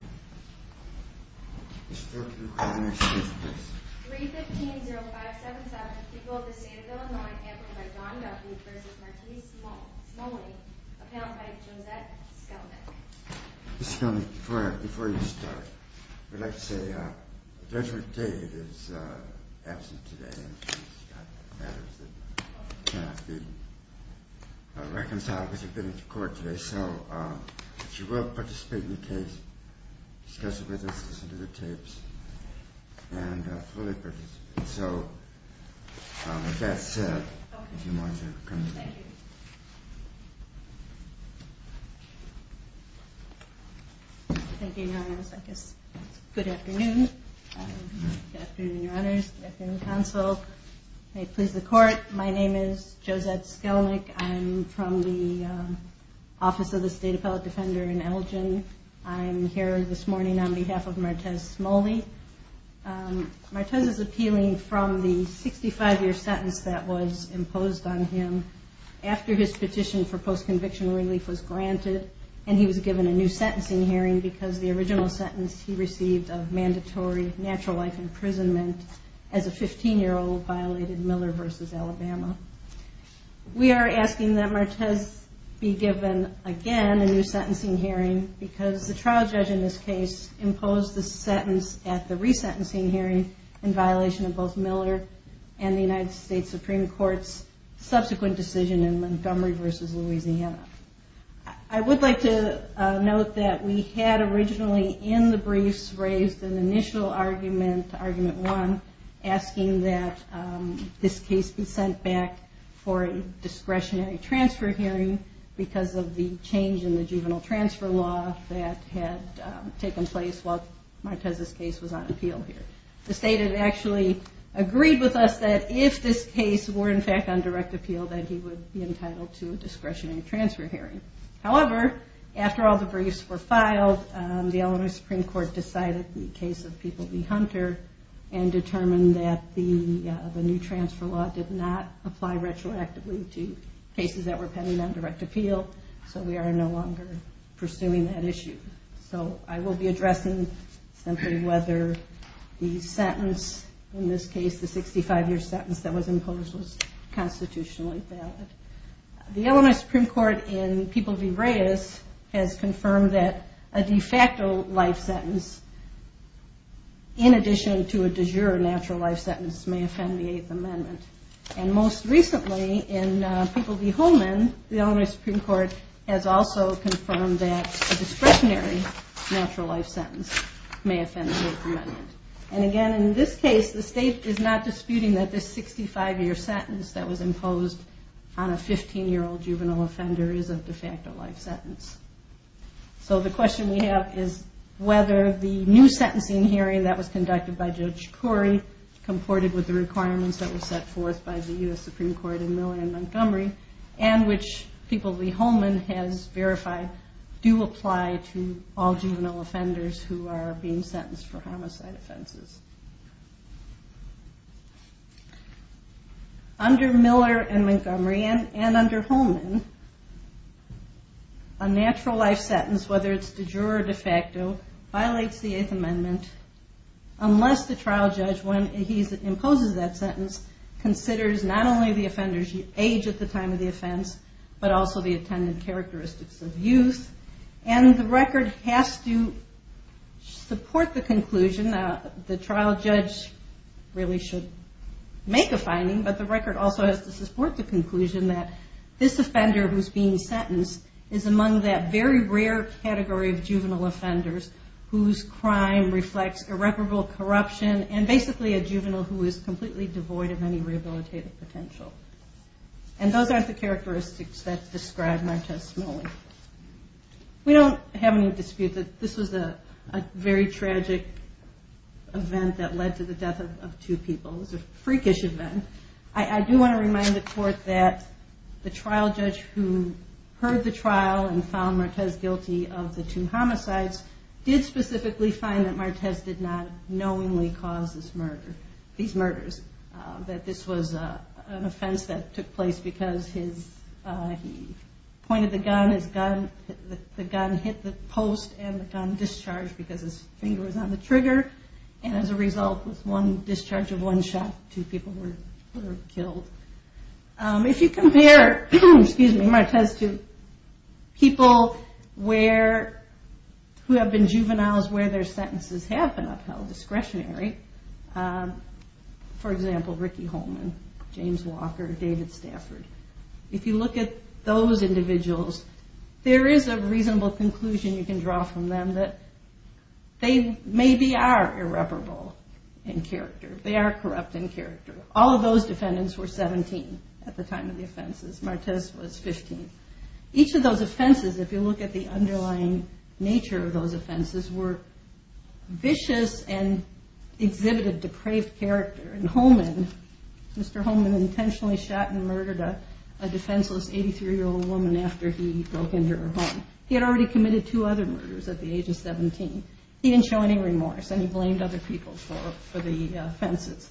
315-0577, people of the state of Illinois, amplified by Don Duffy v. Marti Smolley, appellant by Josette Skelnick Ms. Skelnick, before you start, I'd like to say Judge McDade is absent today and she's got matters that cannot be reconciled because she's been in court today. So she will participate in the case, discuss it with us, listen to the tapes, and fully participate. So with that said, if you want to come in. Thank you. Thank you, Your Honors. Good afternoon. Good afternoon, Your Honors. Good afternoon, Counsel. May it please the Court. My name is Josette Skelnick. I'm from the Office of the State Appellate Defender in Elgin. I'm here this morning on behalf of Marti Smolley. Marti is appealing from the 65-year sentence that was imposed on him after his petition for post-conviction relief was granted and he was given a new sentencing hearing because the original sentence he received of mandatory natural life imprisonment as a 15-year-old violated Miller v. Alabama. We are asking that Marti be given again a new sentencing hearing because the trial judge in this case imposed the sentence at the resentencing hearing in violation of both Miller and the United States Supreme Court's subsequent decision in Montgomery v. Louisiana. I would like to note that we had originally in the briefs raised an initial argument, argument one, asking that this case be sent back for a discretionary transfer hearing because of the change in the juvenile transfer law that had taken place while Marti's case was on appeal here. The state had actually agreed with us that if this case were in fact on direct appeal that he would be entitled to a discretionary transfer hearing. However, after all the briefs were filed, the Alabama Supreme Court decided the case of People v. Hunter and determined that the new transfer law did not apply retroactively to cases that were pending on direct appeal, so we are no longer pursuing that issue. So I will be addressing simply whether the sentence in this case, the 65-year sentence that was imposed was constitutionally valid. The Alabama Supreme Court in People v. Reyes has confirmed that a de facto life sentence in addition to a de jure natural life sentence may offend the state's amendment. And again, in this case, the state is not disputing that this 65-year sentence that was imposed on a 15-year-old juvenile offender is a de facto life sentence. So the question we have is whether the new sentencing hearing that was conducted by Judge Corey, comported with the requirements that were set forth by the U.S. Supreme Court in Miller and Montgomery, and which People v. Holman has verified, do apply to all juvenile offenders who are being sentenced for homicide offenses. Under Miller and Montgomery, and under Holman, a natural life sentence, whether it's de jure or de facto, violates the Eighth Amendment unless the trial judge, when he imposes that sentence, considers not only the offender's age at the time of the offense, but also the attendant characteristics of the offender. So the record has to support the conclusion, the trial judge really should make a finding, but the record also has to support the conclusion that this offender who's being sentenced is among that very rare category of juvenile offenders whose crime reflects irreparable corruption, and basically a juvenile who is completely devoid of any rehabilitative potential. And those aren't the characteristics that's described in our testimony. We don't have any dispute that this was a very tragic event that led to the death of two people. It was a freakish event. I do want to remind the court that the trial judge who heard the trial and found Martez guilty of the two homicides did specifically find that Martez did not knowingly cause these murders, that this was an offense that took place because he pointed the gun, the gun hit the post, and the gun discharged because his finger was on the trigger, and as a result was one discharge of one shot, two people were killed. If you compare Martez to people who have been juveniles where their sentences have been upheld, discretionary, for example, Ricky Holman, James Walker, David Stafford, if you look at those individuals, there is a reasonable conclusion you can draw from them that they maybe are irreparable in character. They are corrupt in character. All of those defendants were 17 at the time of the offenses. Martez was 15. Each of those offenses, if you look at the underlying nature of those offenses, were vicious and exhibited depraved character, and Holman was not a depraved character. He was a victim of the crime. Mr. Holman intentionally shot and murdered a defenseless 83-year-old woman after he broke into her home. He had already committed two other murders at the age of 17. He didn't show any remorse, and he blamed other people for the offenses.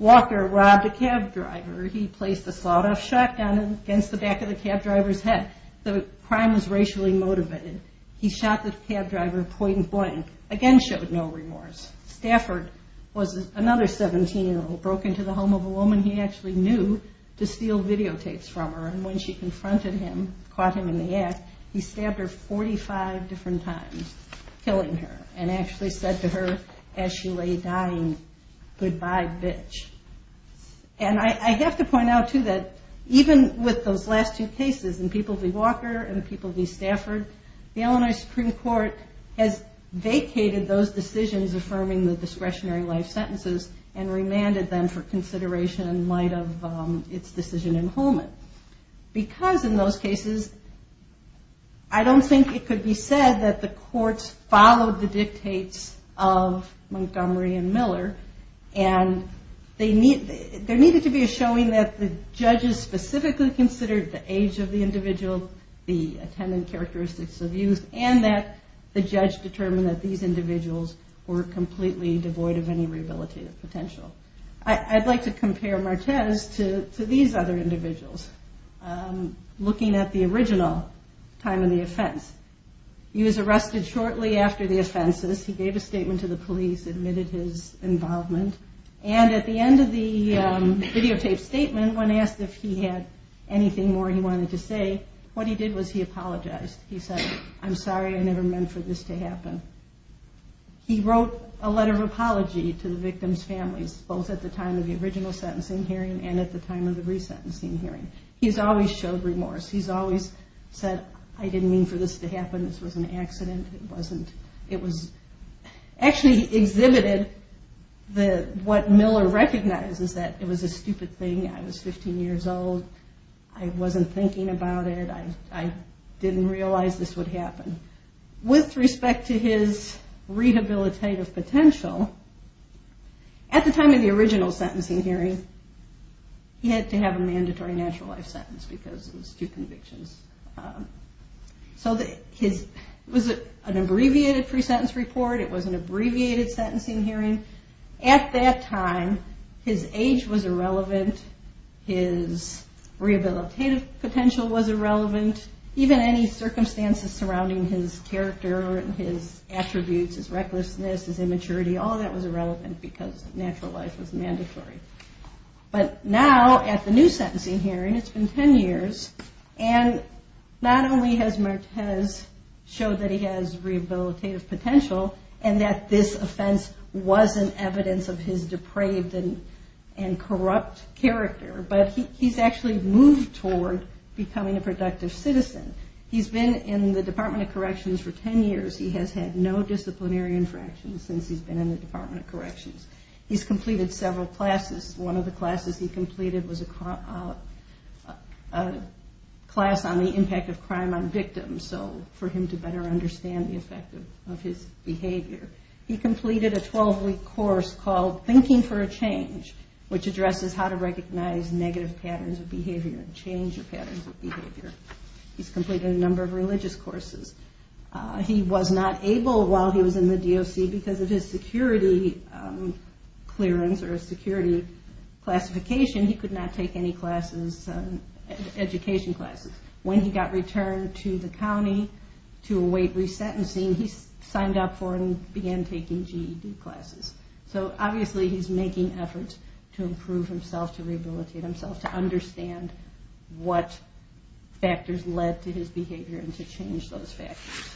Walker robbed a cab driver. He placed a slaught off shotgun against the back of the cab driver's head. The crime was racially motivated. He shot the cab driver point-and-blank, again showed no remorse. Stafford was another 17-year-old, broke into the home of a woman he actually knew to steal videotapes from her, and when she confronted him, caught him in the act, he stabbed her 45 different times, killing her, and actually said to her, as she lay dying, good-bye, bitch. And I have to point out, too, that even with those last two cases, and people v. Walker and people v. Stafford, the Illinois Supreme Court has vacated those decisions of first-degree murder. They have removed the discretionary life sentences and remanded them for consideration in light of its decision in Holman. Because in those cases, I don't think it could be said that the courts followed the dictates of Montgomery and Miller, and there needed to be a showing that the judges specifically considered the age of the individual, the attendant characteristics of youth, and that the judge determined that these individuals were complete criminals. He was completely devoid of any rehabilitative potential. I'd like to compare Martez to these other individuals, looking at the original time of the offense. He was arrested shortly after the offenses. He gave a statement to the police, admitted his involvement, and at the end of the videotaped statement, when asked if he had anything more he wanted to say, what he did was he apologized. He said, I'm sorry, I never meant for this to happen. He wrote a letter of apology to the victim's families, both at the time of the original sentencing hearing and at the time of the resentencing hearing. He's always showed remorse. He's always said, I didn't mean for this to happen, this was an accident. It was actually exhibited what Miller recognizes, that it was a stupid thing, I was 15 years old, I wasn't thinking about it, I didn't realize this would happen. With respect to his rehabilitative potential, at the time of the original sentencing hearing, he had to have a mandatory natural life sentence because of his two convictions. It was an abbreviated pre-sentence report, it was an abbreviated sentencing hearing. At that time, his age was irrelevant, his rehabilitative potential was irrelevant, even any circumstances surrounding his character, his attributes, his recklessness, his immaturity, all that was irrelevant because natural life was mandatory. But now, at the new sentencing hearing, it's been 10 years, and not only has Martez showed that he has rehabilitative potential and that this offense wasn't evidence of his depraved and corrupt character, but he's actually moved toward becoming a productive citizen. He's been in the Department of Corrections for 10 years, he has had no disciplinary infractions since he's been in the Department of Corrections. He's completed several classes, one of the classes he completed was a class on the impact of crime on victims, so for him to better understand the effect of his behavior. He completed a 12-week course called Thinking for a Change, which addresses how to recognize negative patterns of behavior and change your patterns of behavior. He's completed a number of religious courses. He was not able, while he was in the DOC, because of his security clearance or his security classification, he could not take any classes, education classes. When he got returned to the county to await resentencing, he signed up for and began taking GED classes. So, obviously, he's making efforts to improve himself, to rehabilitate himself, to understand what factors led to his behavior and to change those factors.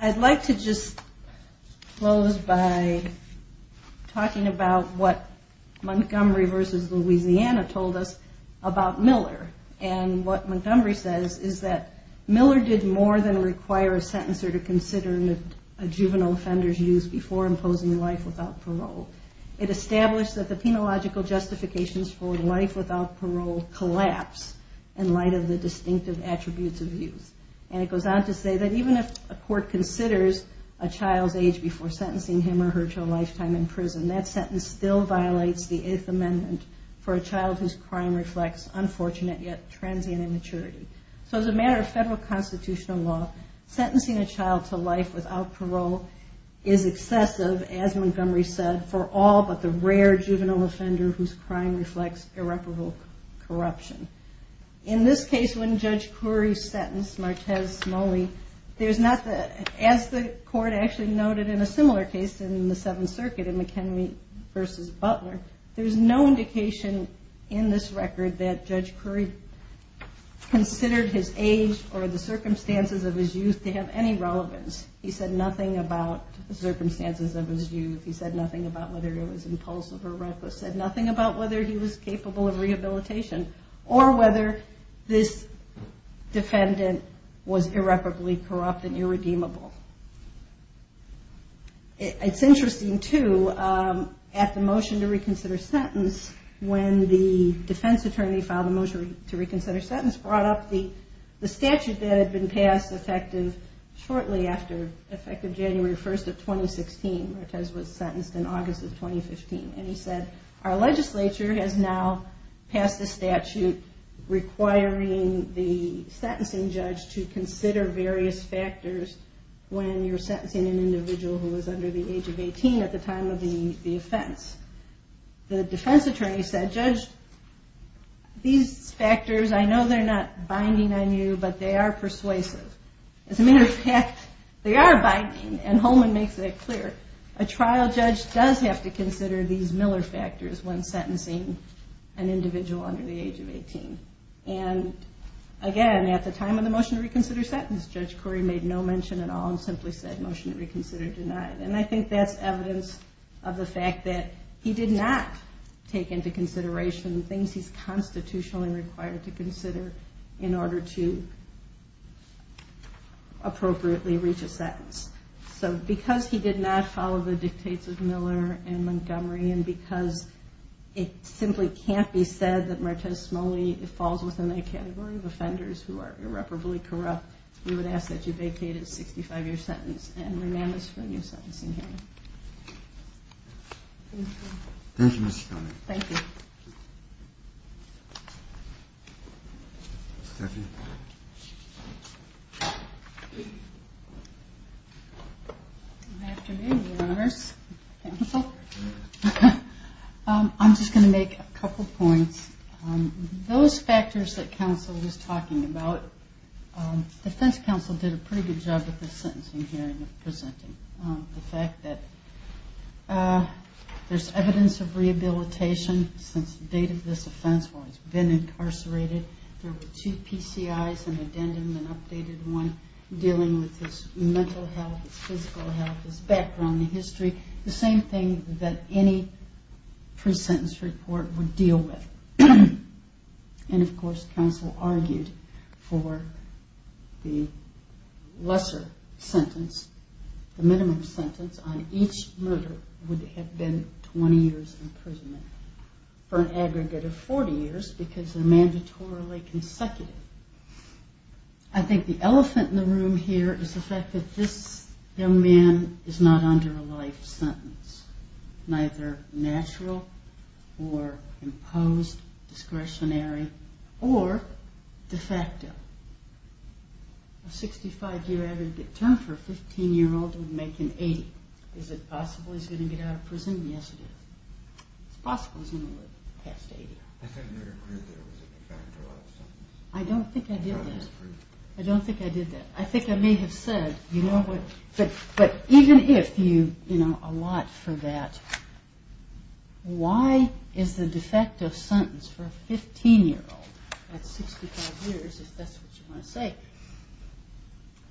I'd like to just close by talking about what Montgomery v. Louisiana told us about Miller. And what Montgomery says is that Miller did more than require a sentencer to consider a juvenile offender's use before imposing life without parole. It established that the penological justifications for life without parole collapse in light of the distinctive attributes of youth. And it goes on to say that even if a court considers a child's age before sentencing him or her to a lifetime in prison, that sentence still violates the Eighth Amendment for a child whose crime reflects unfortunate yet transient immaturity. So, as a matter of federal constitutional law, sentencing a child to life without parole is excessive, as Montgomery said, for all but the rare juvenile offender whose crime reflects irreparable corruption. In this case, when Judge Currie sentenced Martez Smalley, as the court actually noted in a similar case in the Seventh Circuit in McHenry v. Butler, there's no indication in this record that Judge Currie considered his age or the circumstances of his youth to have any relevance. He said nothing about the circumstances of his youth. He said nothing about whether he was impulsive or reckless. He said nothing about whether he was capable of rehabilitation or whether this defendant was irreparably corrupt and irredeemable. It's interesting, too, at the motion to reconsider sentence, when the defense attorney filed a motion to reconsider sentence, brought up the statute that had been passed effective shortly after January 1st of 2016. Martez was sentenced in August of 2015. He said, our legislature has now passed a statute requiring the sentencing judge to consider various factors when you're sentencing an individual who is under the age of 18 at the time of the offense. The defense attorney said, Judge, these factors, I know they're not binding on you, but they are persuasive. As a matter of fact, they are binding, and Holman makes that clear. A trial judge does have to consider these Miller factors when sentencing an individual under the age of 18. Again, at the time of the motion to reconsider sentence, Judge Corey made no mention at all and simply said, motion to reconsider denied. I think that's evidence of the fact that he did not take into consideration things he's constitutionally required to consider in order to appropriately reach a sentence. Because he did not follow the dictates of Miller and Montgomery, and because it simply can't be said that Martez Smalley falls within the category of offenders who are irreparably corrupt, we would ask that you vacate his 65-year sentence and remand us for a new sentencing hearing. Thank you. Thank you, Ms. Smalley. Thank you. Stephanie. Good afternoon, Your Honors. I'm just going to make a couple points. Those factors that counsel was talking about, defense counsel did a pretty good job with the sentencing hearing of presenting. The fact that there's evidence of rehabilitation since the date of this offense where he's been incarcerated. There were two PCIs, an addendum, an updated one, dealing with his mental health, his physical health, his background, his history. The same thing that any pre-sentence report would deal with. And, of course, counsel argued for the lesser sentence, the minimum sentence on each murder would have been 20 years in prison for an aggregate of 40 years because they're mandatorily consecutive. I think the elephant in the room here is the fact that this young man is not under a life sentence, neither natural or imposed, discretionary, or de facto. A 65-year aggregate term for a 15-year-old would make an 80. Is it possible he's going to get out of prison? Yes, it is. It's possible he's going to live past 80. I don't think I did that. I don't think I did that. I think I may have said, but even if you allot for that, why is the de facto sentence for a 15-year-old at 65 years, if that's what you want to say,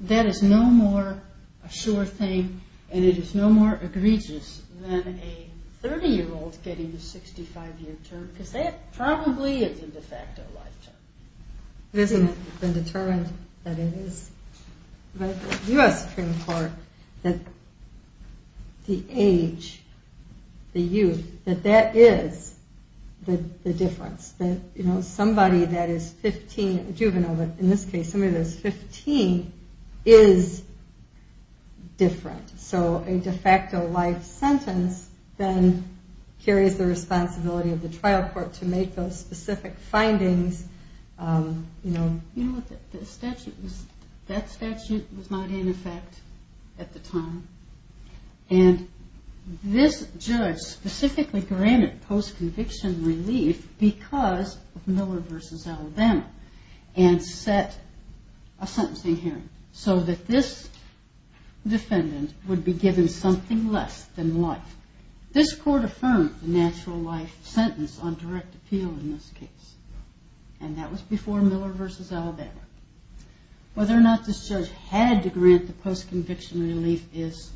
that is no more a sure thing and it is no more egregious than a 30-year-old getting a 65-year term. Because that probably is a de facto life term. It hasn't been determined that it is. But the U.S. Supreme Court, the age, the youth, that that is the difference. That somebody that is 15, a juvenile in this case, somebody that is 15 is different. So a de facto life sentence then carries the responsibility of the trial court to make those specific findings. You know, that statute was not in effect at the time. And this judge specifically granted post-conviction relief because of Miller v. Alabama and set a sentencing hearing so that this defendant would be given something less than life. This court affirmed the natural life sentence on direct appeal in this case. And that was before Miller v. Alabama. Whether or not this judge had to grant the post-conviction relief is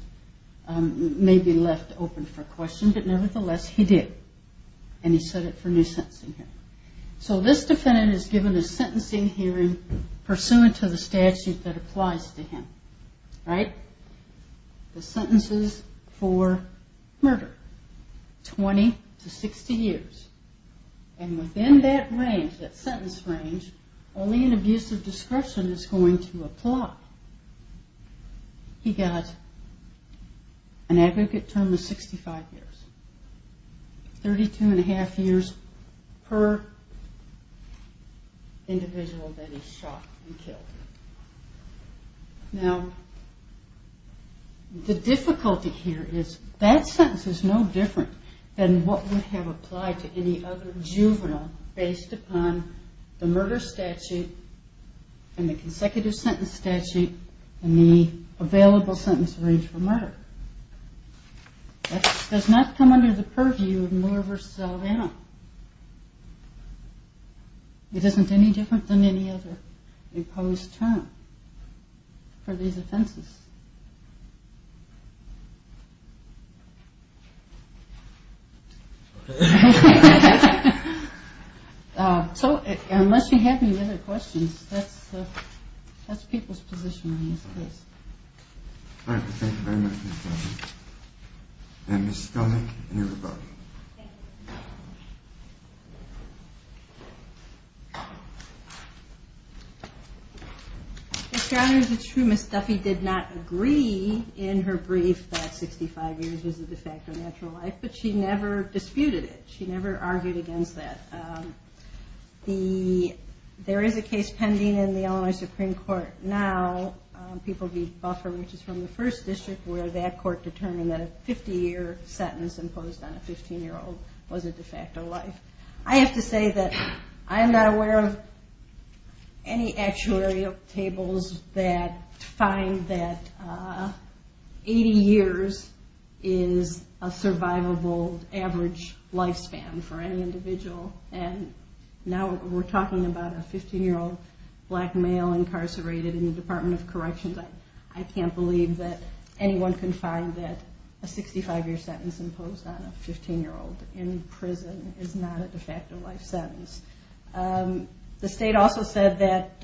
maybe left open for question, but nevertheless he did. And he set it for a new sentencing hearing. So this defendant is given a sentencing hearing pursuant to the statute that applies to him. Right? The sentences for murder, 20 to 60 years. And within that range, that sentence range, only an abuse of discretion is going to apply. He got an aggregate term of 65 years. 32 and a half years per individual that he shot and killed. Now, the difficulty here is that sentence is no different than what would have applied to any other juvenile based upon the murder statute and the consecutive sentence statute and the available sentence range for murder. It does not come under the purview of Miller v. Alabama. It isn't any different than any other imposed term for these offenses. So, unless you have any other questions, that's people's position on this case. Thank you very much, Ms. Duffy. And Ms. Scully and your rebuttal. Ms. Duffy did not agree in her brief that 65 years was a de facto natural life, but she never disputed it. She never argued against that. There is a case pending in the Illinois Supreme Court now, people v. Buffer, which is from the 1st District, where that court determined that a 50-year sentence imposed on a 15-year-old is not a natural life. I have to say that I'm not aware of any actuarial tables that find that 80 years is a survivable average lifespan for any individual. And now we're talking about a 15-year-old black male incarcerated in the Department of Corrections. I can't believe that anyone can find that a 65-year sentence imposed on a 15-year-old in prison is not a de facto life sentence. The state also said that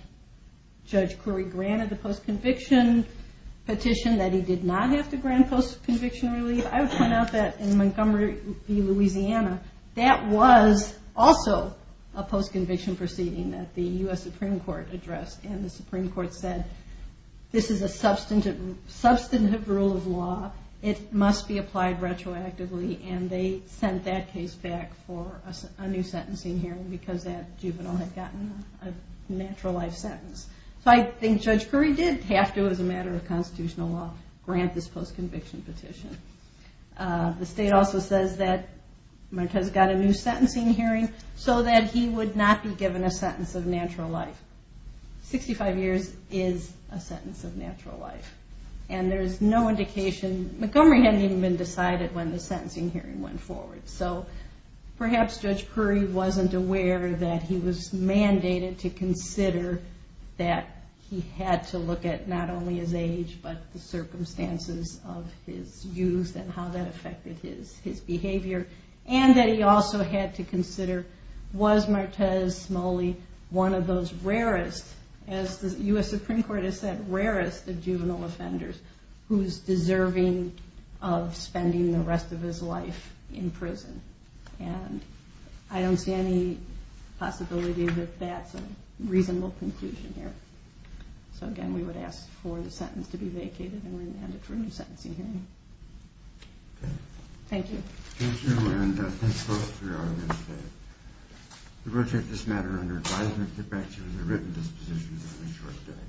Judge Curry granted the post-conviction petition, that he did not have to grant post-conviction relief. I would point out that in Montgomery v. Louisiana, that was also a post-conviction proceeding that the U.S. Supreme Court addressed. And the Supreme Court said, this is a substantive rule of law. It must be applied retroactively. And they sent that case back for a new sentencing hearing because that juvenile had gotten a natural life sentence. So I think Judge Curry did have to, as a matter of constitutional law, grant this post-conviction petition. The state also says that Marquez got a new sentencing hearing so that he would not be given a sentence of natural life. 65 years is a sentence of natural life. And there's no indication, Montgomery hadn't even been decided when the sentencing hearing went forward. So perhaps Judge Curry wasn't aware that he was mandated to consider that he had to look at not only his age, but the circumstances of his youth and how that affected his behavior. And that he also had to consider, was Marquez Smalley one of those rarest, as the U.S. Supreme Court has said, rarest of juvenile offenders who's deserving of spending the rest of his life in prison. And I don't see any possibility that that's a reasonable conclusion here. So again, we would ask for the sentence to be vacated and remanded for a new sentencing hearing. Thank you. Thank you and thanks folks for your audience today. We will take this matter under advisement and get back to you with a written disposition in a short day.